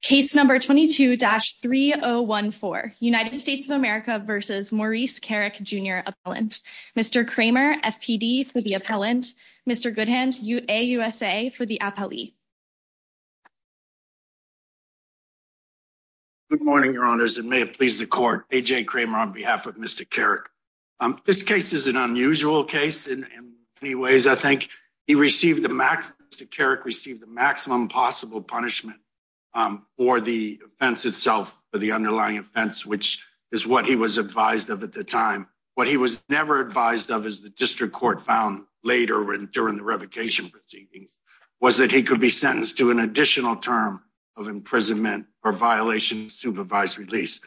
Case number 22-3014, United States of America versus Maurice Kerrick, Jr. Appellant. Mr. Kramer, FPD, for the appellant. Mr. Goodhand, AUSA, for the appellee. Good morning, your honors. It may have pleased the court. A.J. Kramer on behalf of Mr. Kerrick. This case is an unusual case in many ways, I think. Mr. Kerrick received the maximum possible punishment for the offense itself, for the underlying offense, which is what he was advised of at the time. What he was never advised of, as the district court found later during the revocation proceedings, was that he could be sentenced to an additional term of imprisonment or violation of supervised release.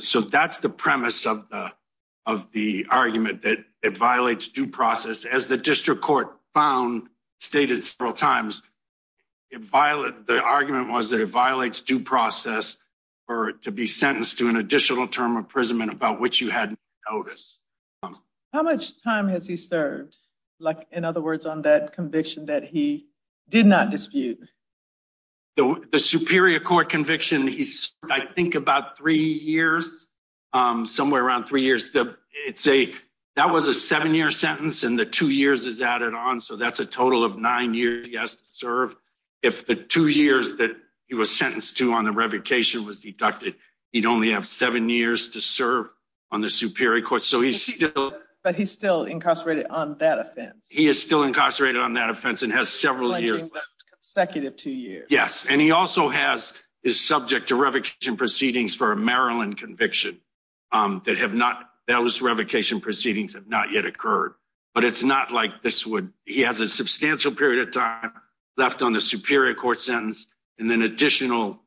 So that's the premise of the argument, that it violates due process. As the district court found, stated several times, the argument was that it violates due process for it to be sentenced to an additional term of imprisonment about which you hadn't noticed. How much time has he served? Like, in other words, on that conviction that he did not dispute? The superior court conviction, he served, I think, about three years, somewhere around three years. That was a seven-year sentence and the two years is added on, so that's a total of nine years he has to serve. If the two years that he was sentenced to on the revocation was deducted, he'd only have seven years to serve on the superior court. But he's still incarcerated on that offense? He is still incarcerated on that offense and has several years left. A consecutive two years. Yes, and he also is subject to revocation proceedings for a Maryland conviction that have not, those revocation proceedings have not yet occurred. But it's not like this would, he has a substantial period of time left on the superior court sentence and then additional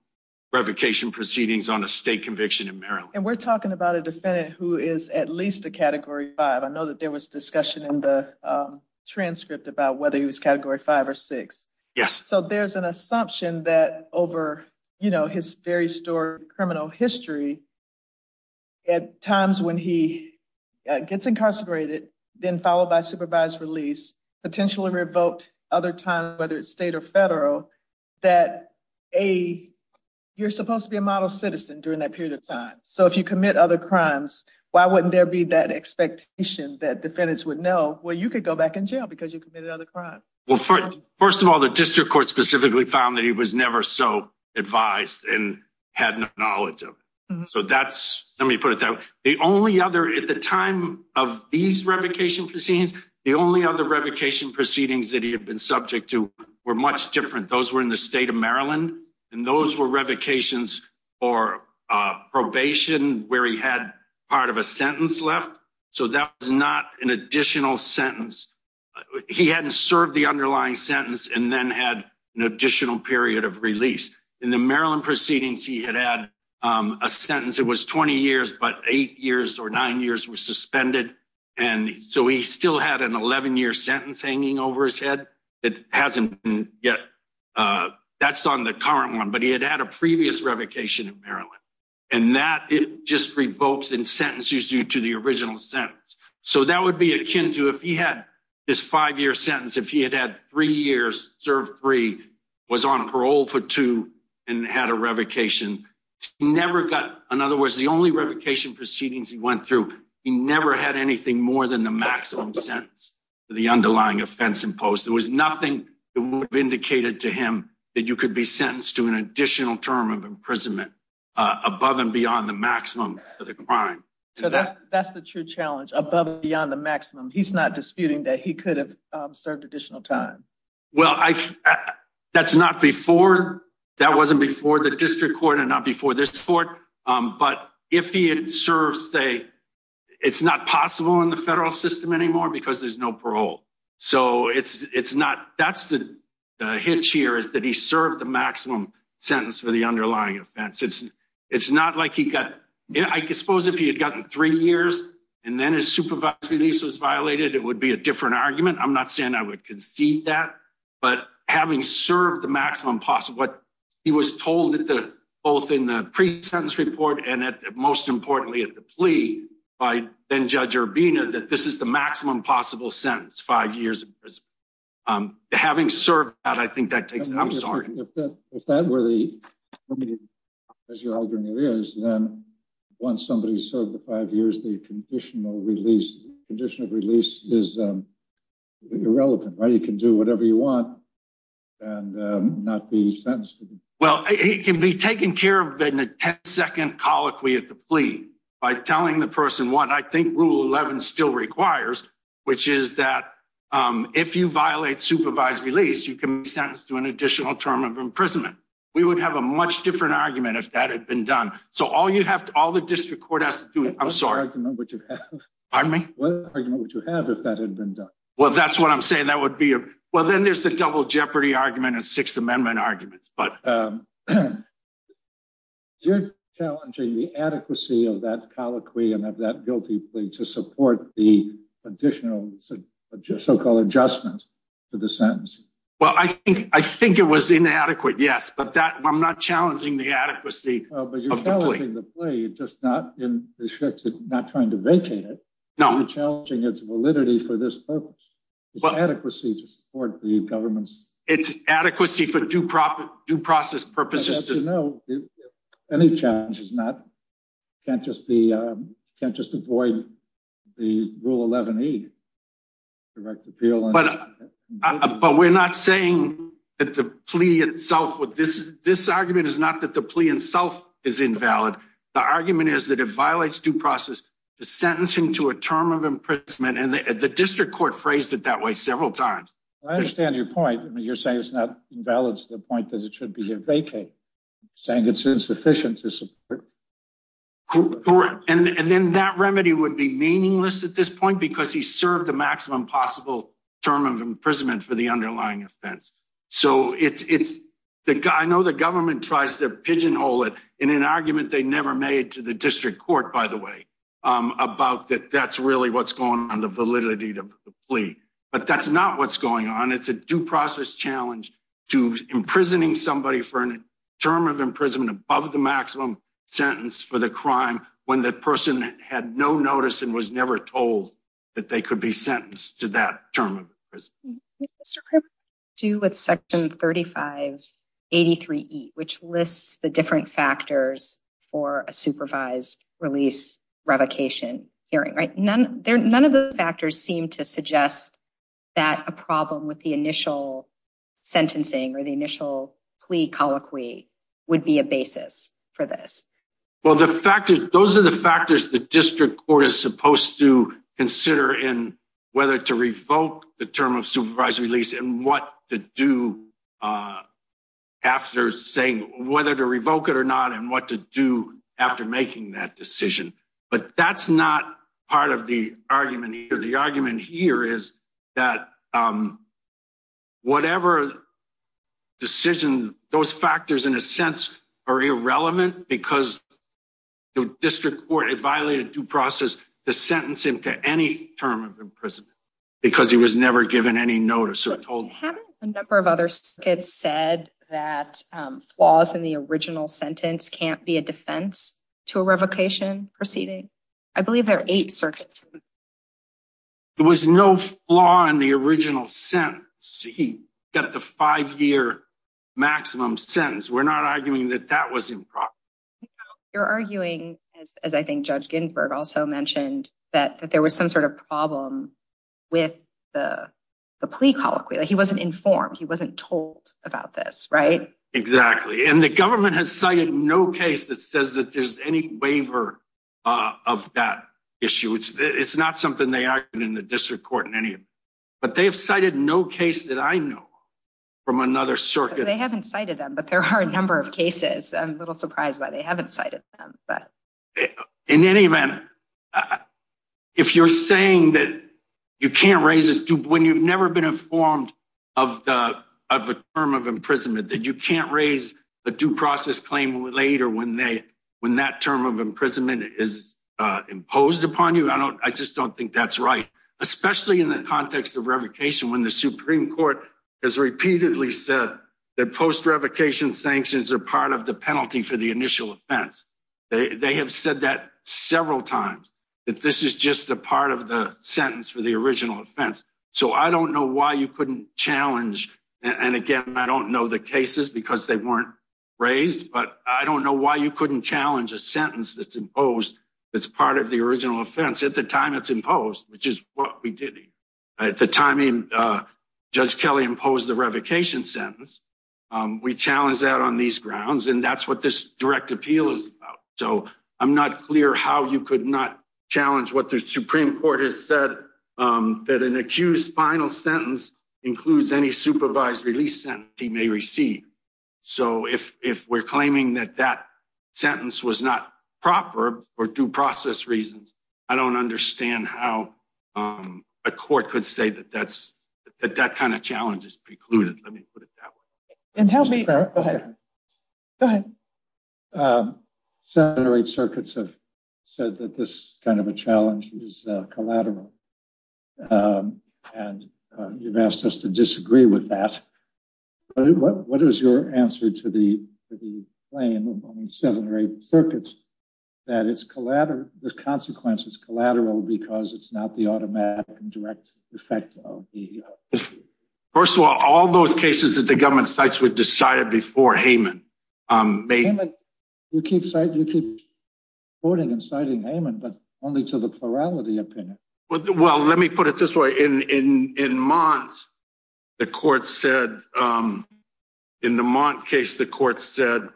revocation proceedings on a state conviction in Maryland. And we're talking about a defendant who is at least a Category 5. I know that there was discussion in the transcript about whether he was Category 5 or 6. Yes. So there's an assumption that over, you know, his very story, criminal history, at times when he gets incarcerated, then followed by supervised release, potentially revoked other times, whether it's state or federal, that you're supposed to be a model citizen during that period of time. So if you commit other crimes, why wouldn't there be that expectation that defendants would know, well, you could go back in jail because you committed other crimes? Well, first of all, the district court specifically found that he was never so advised and had no knowledge of it. So that's, let me put it that way. The only other, at the time of these revocation proceedings, the only other revocation proceedings that he had been subject to were much different. Those were in the state of Maryland, and those were revocations for probation where he had part of a sentence left. So that was not an additional sentence. He hadn't served the underlying sentence and then had an additional period of release. In the Maryland proceedings, he had had a sentence. It was 20 years, but eight years or nine years were suspended, and so he still had an 11-year sentence hanging over his head. It hasn't been yet. That's on the current one, but he had had a previous revocation in Maryland, and that just revokes and sentences you to the original sentence. So that would be akin to if he had this five-year sentence, if he had had three years, served three, was on parole for two, and had a revocation. He never got, in other words, the only revocation proceedings he went through, he never had anything more than the maximum sentence for the underlying offense imposed. There was nothing that would have indicated to him that you could be sentenced to an additional term of imprisonment above and beyond the maximum for the crime. So that's the true challenge, above and beyond the maximum. He's not disputing that he could have served additional time. Well, that's not before, that wasn't before the district court and not before this court, but if he had served, say, it's not possible in the federal system anymore because there's no parole. So that's the maximum sentence for the underlying offense. It's not like he got, I suppose if he had gotten three years and then his supervised release was violated, it would be a different argument. I'm not saying I would concede that, but having served the maximum possible, what he was told both in the pre-sentence report and most importantly at the plea by then Judge Urbina, that this is the maximum possible sentence, five years in prison. Having served that, I'm sorry. If that were the, as your algorithm is, then once somebody's served the five years, the conditional release, conditional release is irrelevant, right? You can do whatever you want and not be sentenced. Well, it can be taken care of in a 10 second colloquy at the plea by telling the person what I think rule 11 still requires, which is that if you violate supervised release, you can be sentenced to an additional term of imprisonment. We would have a much different argument if that had been done. So all you have to, all the district court has to do, I'm sorry. What argument would you have if that had been done? Well, that's what I'm saying. That would be, well, then there's the double jeopardy argument and sixth amendment arguments, but you're challenging the adequacy of that colloquy and of that guilty plea to support the additional so-called adjustment to the sentence. Well, I think it was inadequate, yes, but I'm not challenging the adequacy of the plea. But you're challenging the plea, just not in the sense of not trying to vacate it. No. You're challenging its validity for this purpose. It's adequacy to support the government's... It's adequacy for due process purposes. No, any challenge is not, can't just be, can't just avoid the rule 11E, direct appeal. But we're not saying that the plea itself with this, this argument is not that the plea itself is invalid. The argument is that it violates due process to sentencing to a term of imprisonment. And the district court phrased it that way several times. I understand your point. I mean, you're saying it's not invalid to the point that it should be a vacate, saying it's insufficient to support... Correct. And then that remedy would be meaningless at this point because he served the maximum possible term of imprisonment for the underlying offense. So it's, I know the government tries to pigeonhole it in an argument they never made to the district court, by the way, about that that's really what's going on, the validity of the plea, but that's not what's going on. It's a due process challenge to imprisoning somebody for an term of imprisonment above the maximum sentence for the crime when the person had no notice and was never told that they could be sentenced to that term of imprisonment. Do with section 3583E, which lists the different factors for a supervised release revocation hearing, right? None of the factors seem to suggest that a problem with the initial sentencing or the initial plea colloquy would be a basis for this. Well, those are the factors the district court is supposed to consider in whether to revoke the term of supervised release and what to do after saying whether to revoke it or not and what to do after making that decision, but that's not part of the argument here. The argument here is that whatever decision, those factors in a sense are irrelevant because the district court violated due process to sentence him to any term of imprisonment because he was never given any notice or told. Haven't a number of other states said that flaws in the original sentence can't be a defense to a revocation proceeding? I believe there are eight circuits. There was no flaw in the original sentence. He got the five-year maximum sentence. We're not arguing that that was improper. You're arguing, as I think Judge Ginsburg also mentioned, that there was some sort of problem with the plea colloquy. He wasn't informed. He wasn't told about this, exactly, and the government has cited no case that says that there's any waiver of that issue. It's not something they argued in the district court in any of them, but they've cited no case that I know from another circuit. They haven't cited them, but there are a number of cases. I'm a little surprised why they haven't cited them, but in any event, if you're saying that you can't raise it when you've never been informed of a term of imprisonment, that you can't raise a due process claim later when that term of imprisonment is imposed upon you, I just don't think that's right, especially in the context of revocation when the Supreme Court has repeatedly said that post-revocation sanctions are part of the penalty for the initial offense. They have said that several times, that this is just a part of the sentence for the original offense, so I don't know why you couldn't challenge, and again, I don't know the cases because they weren't raised, but I don't know why you couldn't challenge a sentence that's imposed that's part of the original offense at the time it's imposed, which is what we did. At the time Judge Kelly imposed the revocation sentence, we challenged that on these grounds, and that's what this appeal is about, so I'm not clear how you could not challenge what the Supreme Court has said that an accused final sentence includes any supervised release sentence he may receive, so if we're claiming that that sentence was not proper for due process reasons, I don't understand how a court could say that that kind of challenge is precluded. Let me put it that way. Go ahead. Seven or eight circuits have said that this kind of a challenge is collateral, and you've asked us to disagree with that, but what is your answer to the claim of only seven or eight circuits that the consequence is collateral because it's not the automatic and direct effect of the... First of all, all those cases that the government cites were decided before Heyman. Heyman, you keep citing, you keep quoting and citing Heyman, but only to the plurality opinion. Well, let me put it this way. In Mons, the court said, in the Mons case, the court said,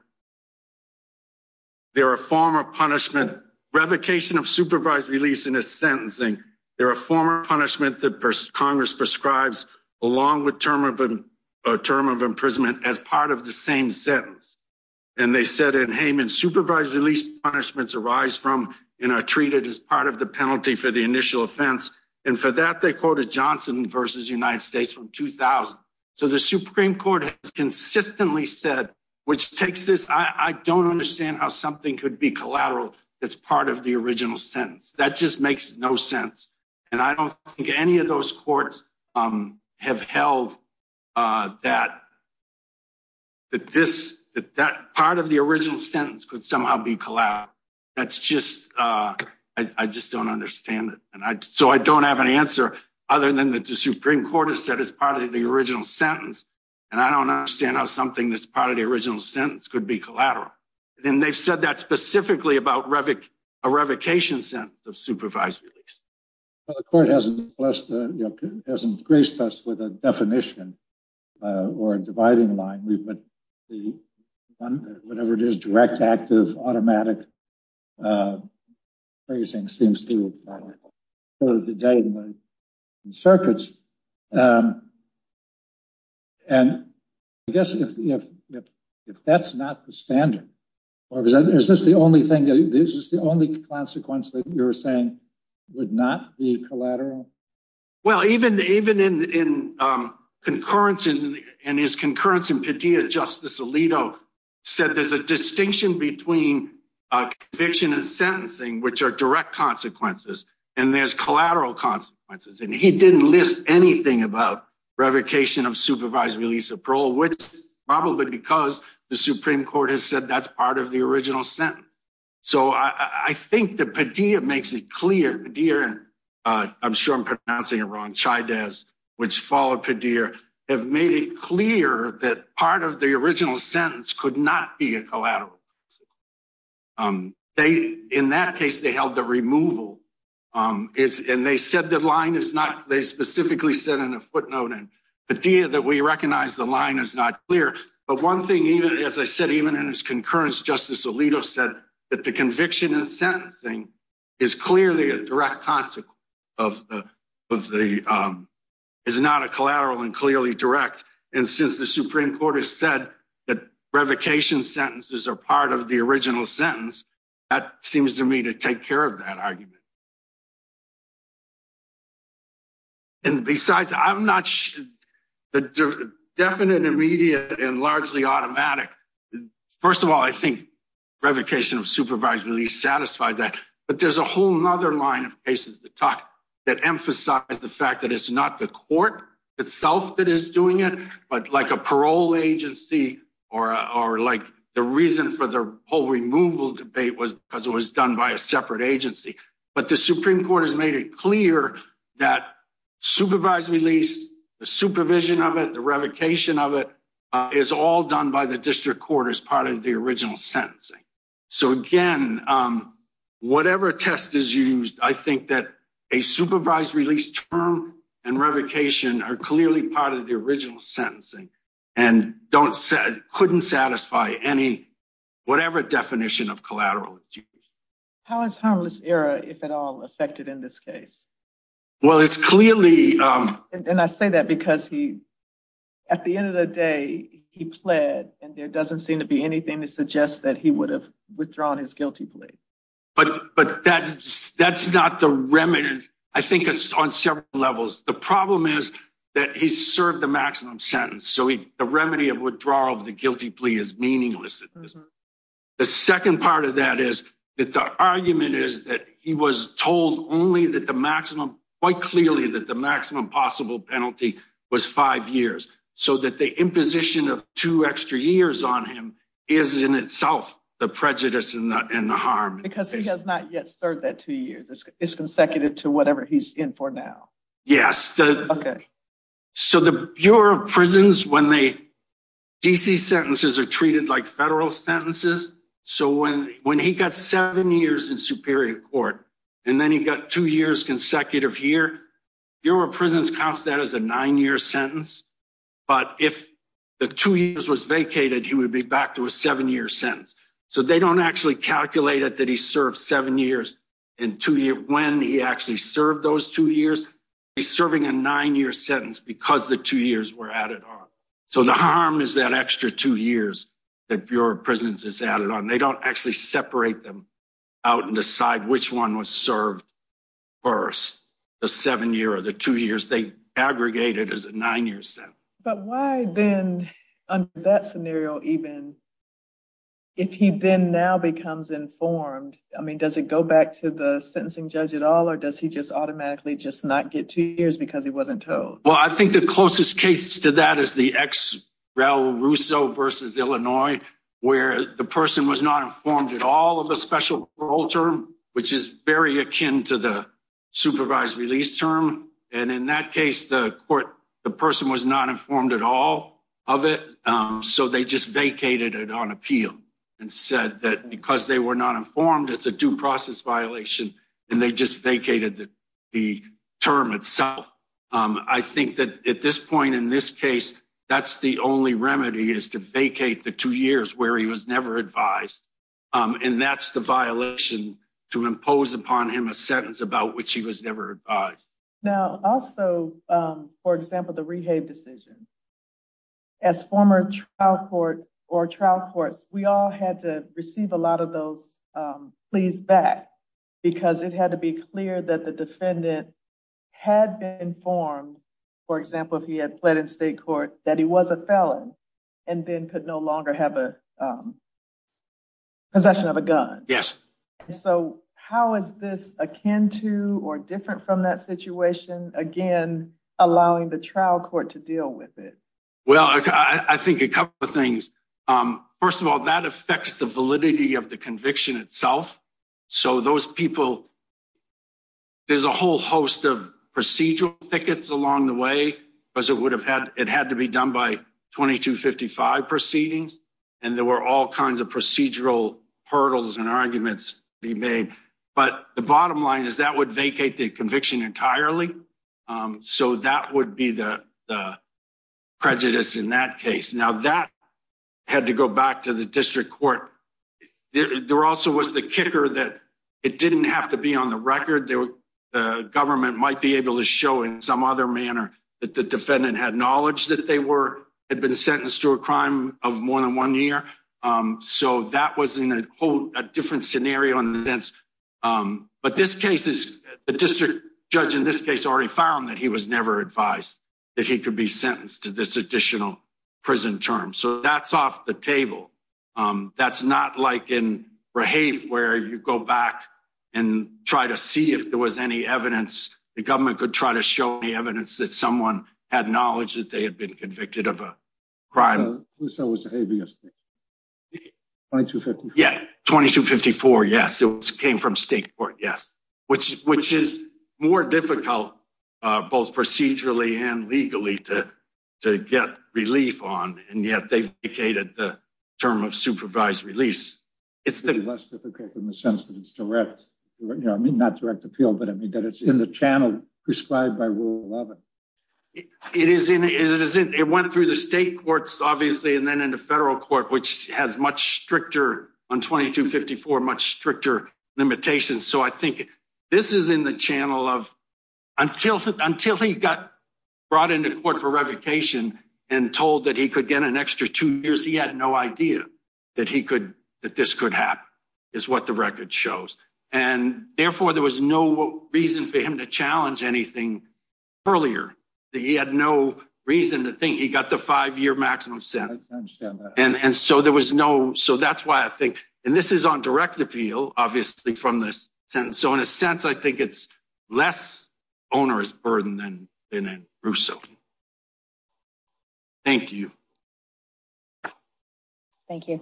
there are a form of punishment, revocation of supervised release in a sentencing. There are a form of punishment that Congress prescribes along with term of imprisonment as part of the same sentence, and they said in Heyman, supervised release punishments arise from and are treated as part of the penalty for the initial offense, and for that, they quoted Johnson versus United States from 2000. So the Supreme Court has consistently said, which takes this... I don't understand how something could be collateral that's part of the original sentence. That just makes no sense, and I don't think any of those courts have held that part of the original sentence could somehow be collateral. That's just... I just don't understand it, and so I don't have an answer other than that the Supreme Court has said it's part of the original sentence, and I don't understand how something that's part of the original sentence could be collateral. And they've said that specifically about a revocation sentence of supervised release. Well, the court hasn't blessed, hasn't graced us with a definition or a dividing line. We've got the one, whatever it is, direct, active, automatic phrasing seems to be the day in the circuits, and I guess if that's not the standard, or is this the only thing, this is the only consequence that you're saying would not be collateral? Well, even in his concurrence in Padilla, Justice Alito said there's a distinction between conviction and sentencing, which are direct consequences, and there's collateral consequences, and he didn't list anything about revocation of supervised release of parole, which is probably because the Supreme Court has said that's part of the original sentence. So, I think that Padilla makes it clear, Padilla, and I'm sure I'm pronouncing it wrong, Chydez, which followed Padilla, have made it clear that part of the original sentence could not be a collateral. In that case, they held the removal, and they said the line is not, they specifically said in a footnote in Padilla that we recognize the line is not clear, but one thing even, as I said, even in his concurrence, Justice Alito said that the conviction and sentencing is clearly a direct consequence of the, is not a collateral and clearly direct, and since the Supreme Court has said that revocation sentences are part of the original sentence, that seems to me to take care of that argument. And besides, I'm not sure, definite, immediate, and largely automatic. First of all, I think revocation of supervised release satisfied that, but there's a whole other line of cases that talk, that emphasize the fact that it's not the court itself that is doing it, but like a parole agency or like the reason for the whole removal debate was because it was done by a separate agency, but the Supreme Court has revocation of it is all done by the district court as part of the original sentencing. So again, whatever test is used, I think that a supervised release term and revocation are clearly part of the original sentencing and don't, couldn't satisfy any, whatever definition of collateral. How has harmless error, if at all, affected in this case? Well, it's clearly. And I say that because he, at the end of the day, he pled and there doesn't seem to be anything to suggest that he would have withdrawn his guilty plea. But, but that's, that's not the remnant. I think it's on several levels. The problem is that he served the maximum sentence. So the remedy of withdrawal of the guilty plea is meaningless. The second part of that is that the argument is that he was told only that the maximum quite clearly that the maximum possible penalty was five years. So that the imposition of two extra years on him is in itself the prejudice and the harm. Because he has not yet served that two years. It's consecutive to whatever he's in for now. Yes. Okay. So the Bureau of Prisons, when they, DC sentences are treated like federal sentences. So when, when he got seven years in superior court, and then he got two years consecutive here, Bureau of Prisons counts that as a nine year sentence. But if the two years was vacated, he would be back to a seven year sentence. So they don't actually calculate it, that he served seven years in two years when he actually served those two years. He's serving a nine year sentence because the two years were added on. So the harm is that extra two years that Bureau of Prisons has added on. They don't actually separate them out and decide which one was served first, the seven year or the two years. They aggregate it as a nine year sentence. But why then under that scenario, even if he then now becomes informed, I mean, does it go back to the sentencing judge at all? Or does he just automatically just not get two years because he wasn't told? Well, I think the closest case to that is the ex-rel Russo versus Illinois, where the person was not informed at all of a special parole term, which is very akin to the supervised release term. And in that case, the court, the person was not informed at all of it. So they just vacated it on appeal and said that because they were not informed, it's a due process violation. And they just vacated the term itself. I think that at this point in this case, that's the only remedy is to vacate the two years where he was never advised. And that's the violation to impose upon him a sentence about which he was never advised. Now, also, for example, the rehab decision. As former trial court or trial courts, we all had to receive a lot of those pleas back because it had to be clear that the defendant had been informed, for example, if he had pled in state court that he was a felon and then could no longer have a possession of a gun. Yes. So how is this akin to or different from that situation, again, allowing the trial court to deal with it? Well, I think a couple of things. First of all, that affects the validity of the conviction itself. So those people, there's a whole host of procedural thickets along the way because it would have had it had to be done by 2255 proceedings. And there were all kinds of procedural hurdles and arguments be made. But the bottom line is that would vacate the conviction entirely. So that would be the prejudice in that case. Now, that had to go back to the district court. There also was the kicker that it didn't have to be on the record. The government might be able to show in some other manner that the defendant had knowledge that they were had been sentenced to a crime of more than one year. So that was in a whole different scenario. But this case is the district judge in this case already found that he was never advised that he could be sentenced to this additional prison term. So that's off the table. That's not like in Rahave where you go back and try to see if there was any evidence. The government could try to show any evidence that someone had knowledge that they had been convicted of a crime. Who said it was Rahave yesterday? 2254? Yeah, 2254, yes. It came from state court, yes. Which is more difficult both procedurally and legally to get relief on. And yet they've vacated the term of supervised release. It's less difficult in the sense that it's direct. I mean, not direct appeal, but I mean that it's in the channel prescribed by Rule 11. It went through the state courts and then into federal court, which has much stricter on 2254, much stricter limitations. So I think this is in the channel of until he got brought into court for revocation and told that he could get an extra two years, he had no idea that this could happen is what the record shows. And therefore there was no reason for him to challenge anything earlier. He had no reason to think he got the five year maximum sentence. And so there was no, so that's why I think, and this is on direct appeal, obviously from this sentence. So in a sense, I think it's less onerous burden than in Russo. Thank you. Thank you.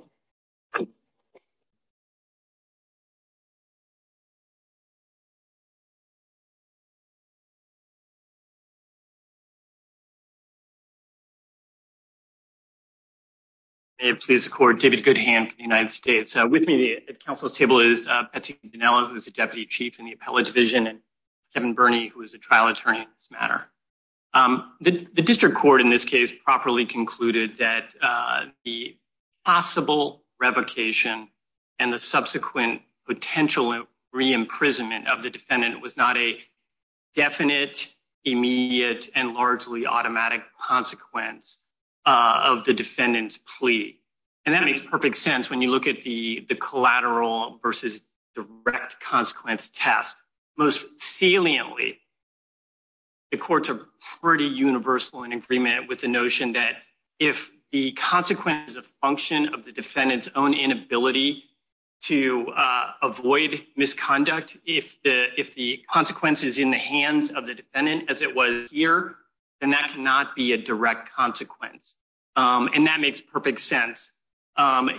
May it please the court, David Goodhand from the United States. With me at council's table is Petty Ginella, who's the deputy chief in the appellate division and Kevin Burney, who is a trial attorney in this matter. The district court in this case properly concluded that the possible revocation and the subsequent potential re-imprisonment of the defendant was not definite, immediate, and largely automatic consequence of the defendant's plea. And that makes perfect sense. When you look at the collateral versus direct consequence test, most saliently, the courts are pretty universal in agreement with the notion that if the consequences of function of the defendant's own inability to avoid misconduct, if the consequences in the hands of the defendant as it was here, then that cannot be a direct consequence. And that makes perfect sense.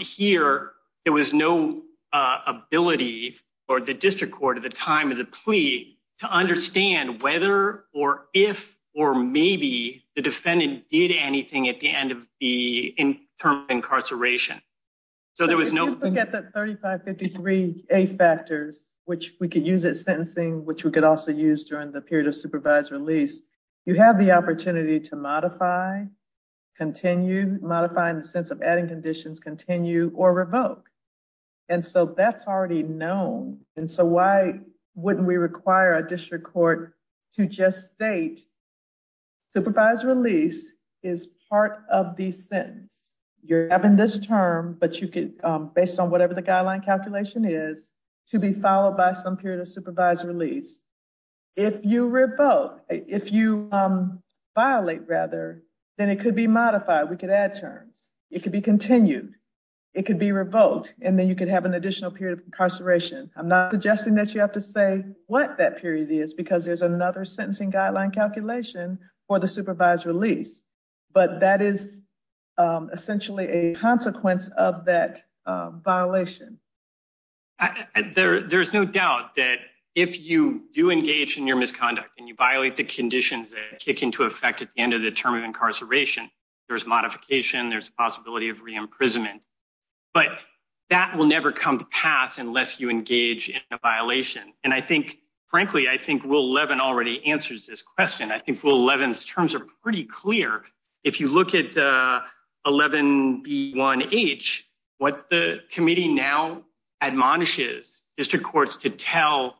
Here, there was no ability for the district court at the time of the plea to understand whether or if, or maybe the defendant did anything at the end of the term of incarceration. So there was no... If you look at the 3553A factors, which we could use it sentencing, which we could also use during the period of supervised release, you have the opportunity to modify, continue, modify in the sense of adding conditions, continue or revoke. And so that's already known. And so why wouldn't we require a district court to just state supervised release is part of the sentence. You're having this term, but you could, based on whatever the guideline calculation is, to be followed by some period of supervised release. If you revoke, if you violate rather, then it could be modified. We could add terms. It could be continued. It could be revoked. And then you could have an additional period of incarceration. I'm not suggesting that you have to say what that period is, because there's another sentencing guideline calculation for the supervised release, but that is essentially a consequence of that violation. There's no doubt that if you do engage in your misconduct and you violate the conditions that kick into effect at the end of the term of incarceration, there's modification, there's a possibility of re-imprisonment, but that will never come to pass unless you engage in a violation. And I think, frankly, I think Rule 11 already answers this question. I think Rule 11's terms are pretty clear. If you look at 11B1H, what the committee now admonishes district courts to tell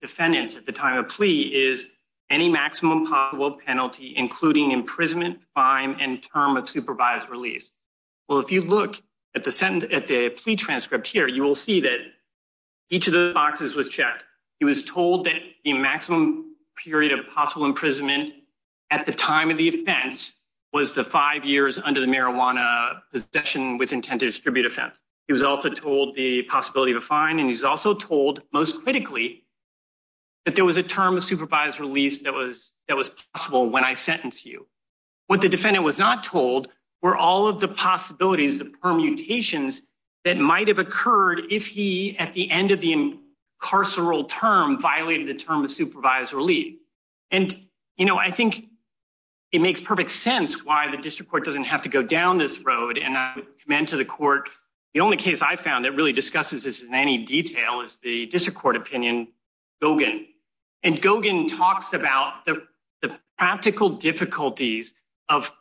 defendants at the time of plea is any maximum possible penalty, including imprisonment, fine, and term of supervised release. Well, if you look at the plea transcript here, you will see that each of the boxes was checked. He was told that the maximum period of possible imprisonment at the time of the offense was the five years under the marijuana possession with intent to distribute offense. He was also told the possibility of a fine, and he's also told, most critically, that there was a term of supervised release that was possible when I sentenced you. What the defendant was not told were all of the possibilities, the permutations that might have occurred if he, at the end of the incarceral term, violated the term of supervised relief. And, you know, I think it makes perfect sense why the district court doesn't have to go down this road. And I would commend to the court, the only case I found that really discusses this in any detail is the district court opinion, Gogan. And Gogan talks about the practical difficulties of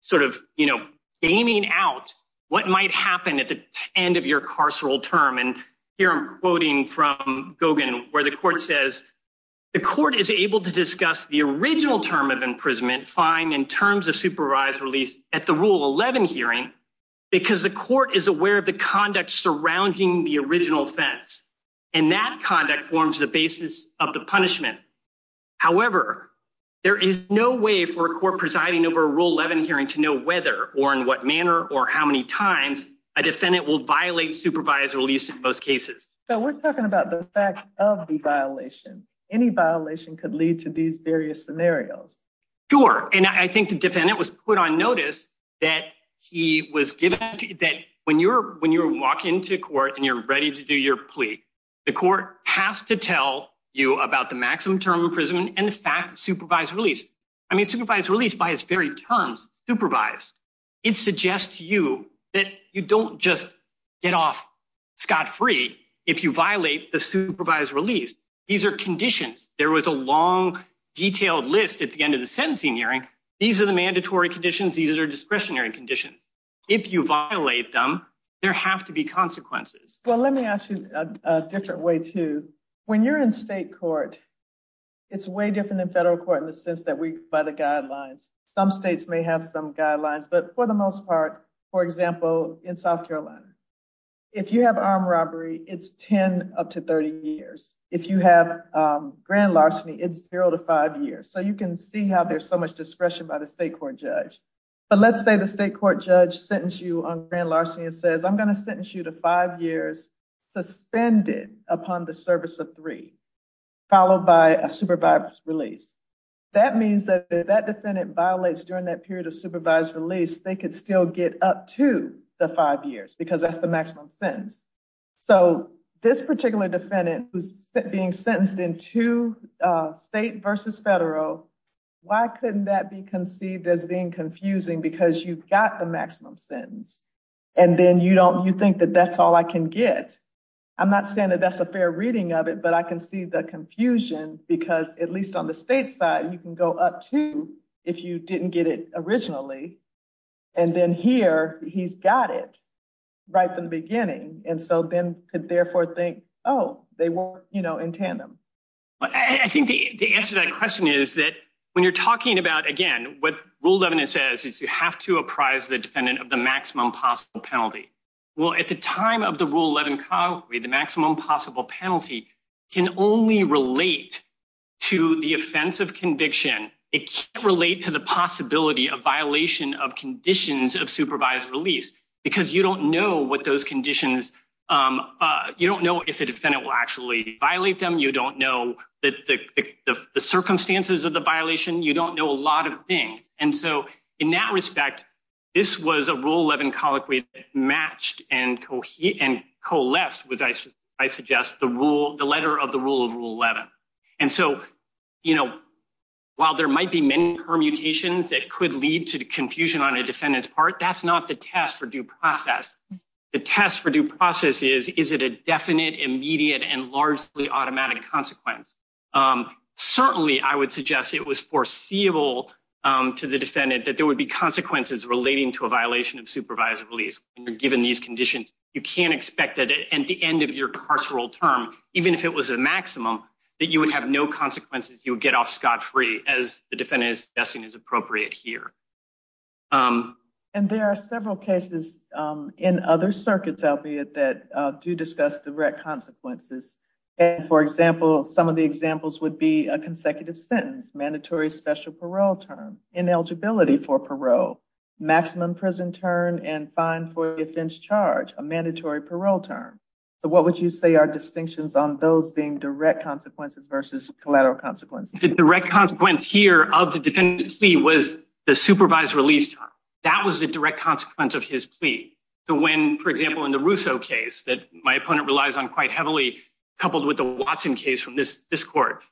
sort of, you know, gaming out what might happen at the end of your carceral term. And here I'm quoting from Gogan, where the court says, the court is able to discuss the original term of imprisonment, fine, and terms of supervised release at the Rule 11 hearing, because the court is aware of the conduct surrounding the original offense. And that Rule 11 hearing to know whether or in what manner or how many times a defendant will violate supervised release in most cases. So we're talking about the fact of the violation. Any violation could lead to these various scenarios. Sure. And I think the defendant was put on notice that he was given that when you're when you walk into court and you're ready to do your plea, the court has to tell you about the maximum term of imprisonment and the fact of supervised release. I mean, supervised release by its very terms, supervised. It suggests to you that you don't just get off scot-free if you violate the supervised release. These are conditions. There was a long, detailed list at the end of the sentencing hearing. These are the mandatory conditions. These are discretionary conditions. If you violate them, there have to be consequences. Well, let me ask you a different way too. When you're in state court, it's way different than by the guidelines. Some states may have some guidelines, but for the most part, for example, in South Carolina, if you have armed robbery, it's 10 up to 30 years. If you have grand larceny, it's zero to five years. So you can see how there's so much discretion by the state court judge. But let's say the state court judge sentenced you on grand larceny and says, I'm going to sentence you to five years suspended upon the service of three, followed by a supervised release. That means that if that defendant violates during that period of supervised release, they could still get up to the five years because that's the maximum sentence. So this particular defendant who's being sentenced in two state versus federal, why couldn't that be conceived as being confusing because you've got the maximum sentence and then you think that that's all I can get. I'm not saying that that's a fair reading of it, but I can see the confusion because at least on the state side, you can go up to if you didn't get it originally. And then here he's got it right from the beginning. And so then could therefore think, oh, they were in tandem. I think the answer to that question is that when you're talking about, again, what rule 11 says is you have to apprise the defendant of the maximum possible penalty. Well, at the time of the rule 11, the maximum possible penalty can only relate to the offense of conviction. It can't relate to the possibility of violation of conditions of supervised release because you don't know what those conditions, you don't know if the defendant will actually violate them. You don't know that the circumstances of the violation, you don't know a lot of things. And so in that respect, this was a rule 11 colloquy that matched and coalesced with, I suggest, the rule, the letter of the rule of rule 11. And so, you know, while there might be many permutations that could lead to confusion on a defendant's part, that's not the test for due process. The test for due process is, is it a definite, immediate, and largely automatic consequence. Certainly I would suggest it was foreseeable to the defendant that there would be consequences relating to a violation of supervised release. When you're given these conditions, you can't expect that at the end of your carceral term, even if it was a maximum, that you would have no consequences. You would get off scot-free as the defendant is suggesting is appropriate here. And there are several cases in other circuits, albeit that do discuss direct consequences. And for example, some of the examples would be a consecutive sentence, mandatory special parole term, ineligibility for parole, maximum prison term, and fine for offense charge, a mandatory parole term. So what would you say are distinctions on those being direct consequences versus collateral consequences? The direct consequence here of the defendant's plea was the supervised release time. That was the direct consequence of his plea. So when, for example, in the Russo case that my opponent relies on quite heavily, coupled with the Watson case from this court,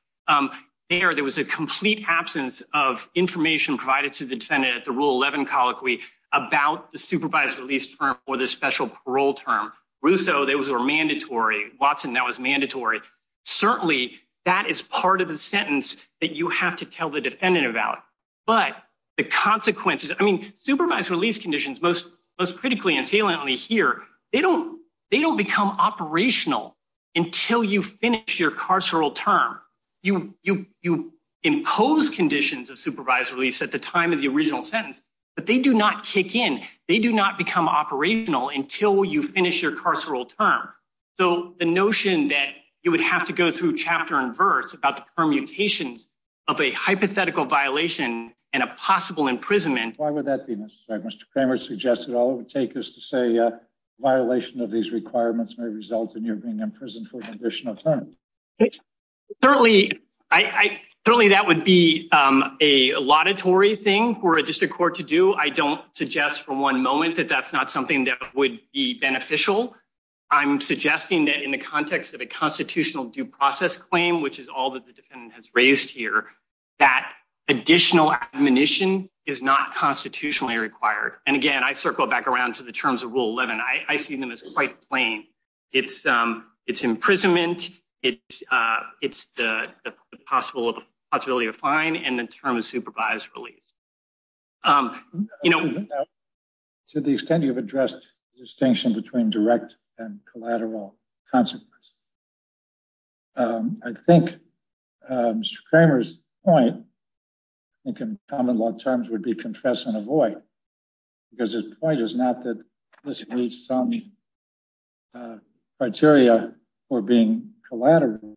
there, there was a complete absence of information provided to the defendant at the Rule 11 colloquy about the supervised release term or the special parole term. Russo, those were mandatory. Watson, that was mandatory. Certainly that is part of the sentence that you have to tell the defendant about. But the consequences, I mean, supervised release conditions, most critically and saliently here, they don't become operational until you finish your carceral term. You impose conditions of supervised release at the time of the original sentence, but they do not kick in. They do not become operational until you finish your carceral term. So the notion that you would have to go through chapter and verse about the permutations of a hypothetical violation and a possible imprisonment. Why would that be? Mr. Kramer suggested all it would take is to say a violation of these requirements may result in you being imprisoned for an additional term. Certainly, that would be a laudatory thing for a district court to do. I don't suggest for one moment that that's not something that would be beneficial. I'm suggesting that in the context of a constitutional due process claim, which is what the defendant has raised here, that additional admonition is not constitutionally required. And again, I circle back around to the terms of Rule 11. I see them as quite plain. It's imprisonment. It's the possibility of a fine and the term of supervised release. To the extent you've addressed the distinction between direct and collateral consequences, I think Mr. Kramer's point, I think in common law terms, would be confess and avoid. Because his point is not that this meets some criteria for being collateral,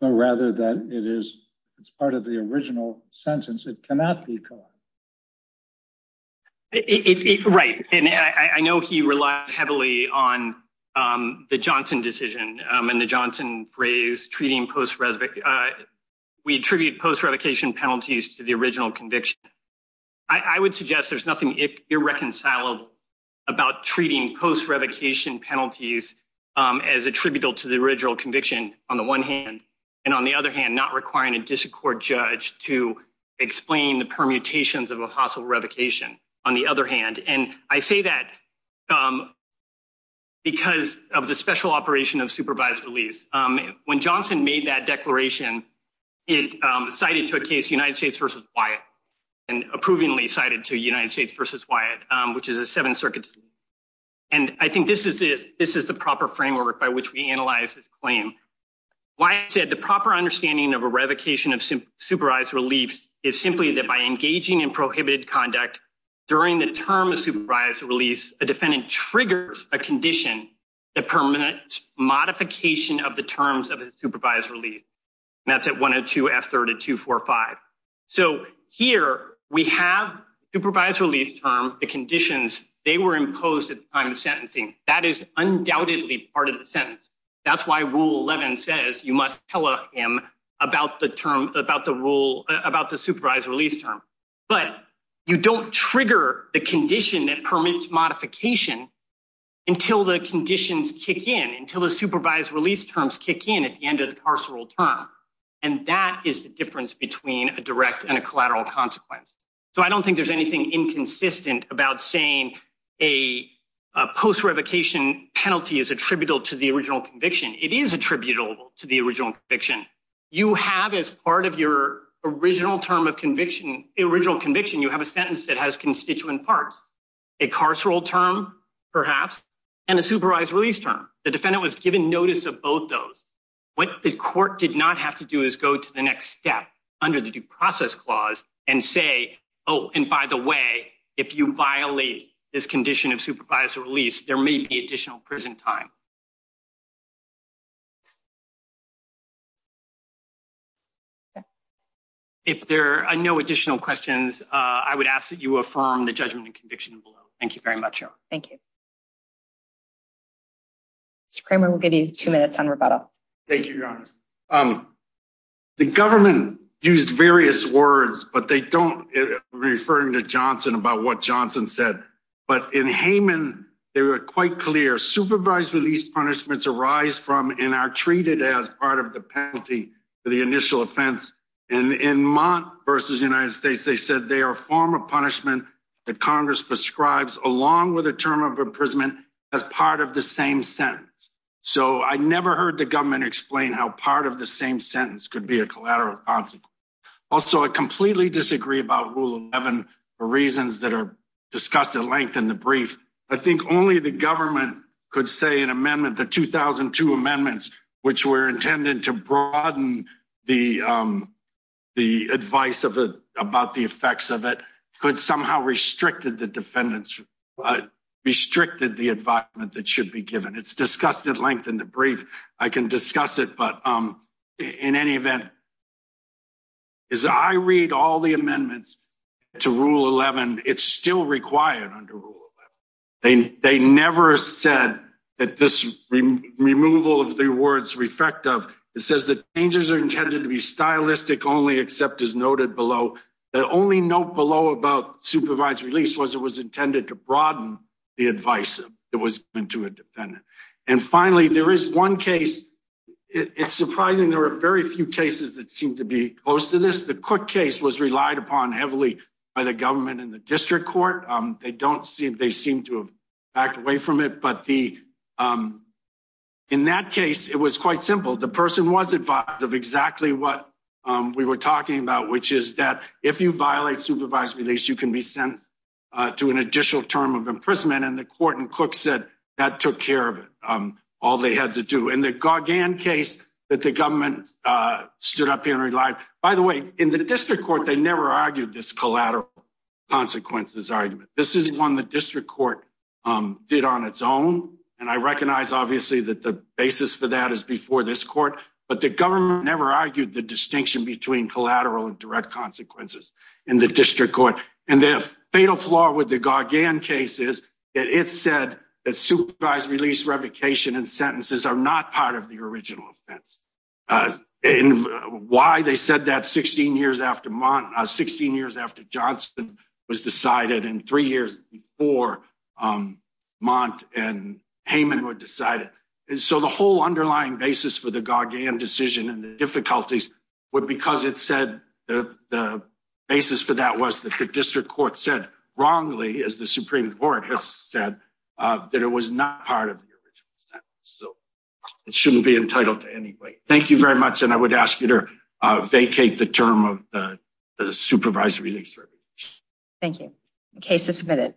but rather that it's part of the original sentence. It cannot be collateral. Right. And I know he relies heavily on the Johnson decision and the Johnson phrase treating post-revocation. We attribute post-revocation penalties to the original conviction. I would suggest there's nothing irreconcilable about treating post-revocation penalties as attributable to the original conviction on the one hand, and on the other hand, not requiring a disaccord judge to explain the permutations of a hostile revocation, on the other hand. And I say that because of the special operation of supervised release. When Johnson made that declaration, it cited to a case United States versus Wyatt, and approvingly cited to United States versus Wyatt, which is a Seventh Circuit. And I think this is the proper framework by which we analyze this claim. Wyatt said, the proper understanding of a revocation of supervised relief is simply that by engaging in prohibited conduct during the term of supervised release, a defendant triggers a condition that permits modification of the terms of a supervised release. And that's at 102 F3245. So here we have supervised relief term, the conditions, they were imposed at the time of sentencing. That is undoubtedly part of the sentence. That's why rule 11 says you must tell him about the term, about the rule, about the supervised release term. But you don't trigger the condition that permits modification until the conditions kick in, until the supervised release terms kick in at the end of the carceral term. And that is the difference between a direct and a collateral consequence. So I don't think there's anything inconsistent about saying a post-revocation penalty is attributable to the original conviction. It is attributable to the original conviction. You have, as part of your original term of conviction, original conviction, you have a sentence that has constituent parts, a carceral term, perhaps, and a supervised release term. The defendant was given notice of both those. What the court did not have to do is go to the next step under the due process clause and say, oh, and by the way, if you violate this condition of supervised release, there may be additional prison time. If there are no additional questions, I would ask that you affirm the judgment and conviction below. Thank you very much. Thank you. Mr. Kramer, we'll give you two minutes on rebuttal. Thank you, Your Honor. The government used various words, but they don't, referring to Johnson, about what Johnson said. But in Hayman, they were quite clear. Supervised release punishments arise from and are treated as part of the penalty for the initial offense. And in Mott v. United States, they said they are a form of punishment that Congress prescribes, along with a term of imprisonment, as part of the same sentence. So I never heard the government explain how part of the same sentence could be a collateral consequence. Also, I completely disagree about Rule 11 for reasons that are discussed at length in the brief. I think only the government could say an amendment, the 2002 amendments, which were intended to broaden the advice about the effects of it, could somehow restricted the defendants, restricted the advice that should be given. It's discussed at length in the brief. I can discuss it, but in any event, as I read all the amendments to Rule 11, it's still required under Rule 11. They never said that this removal of the words refractive. It says the changes are intended to be stylistic only, except as noted below. The only note below about supervised release was it was intended to broaden the advice that was given to a defendant. Finally, there is one case. It's surprising there are very few cases that seem to be close to this. The Cook case was relied upon heavily by the government and the district court. They don't seem to have backed away from it, but in that case, it was quite simple. The person was advised of exactly what we were talking about, which is that if you violate supervised release, you can be sent to an additional term of imprisonment. The court in all they had to do. The Gargan case that the government stood up and relied, by the way, in the district court, they never argued this collateral consequences argument. This is one the district court did on its own. I recognize, obviously, that the basis for that is before this court, but the government never argued the distinction between collateral and direct consequences in the district court. The fatal flaw with the Gargan case is that it said that supervised release, revocation, and sentences are not part of the original offense. Why they said that 16 years after Johnson was decided and three years before Mont and Heyman were decided. The whole underlying basis for the Gargan decision and the difficulties were because it said the basis for that was that the district court said wrongly, as the Supreme Court has said, that it was not part of the original sentence. It shouldn't be entitled to any weight. Thank you very much. I would ask you to vacate the term of the supervised release. Thank you. The case is submitted.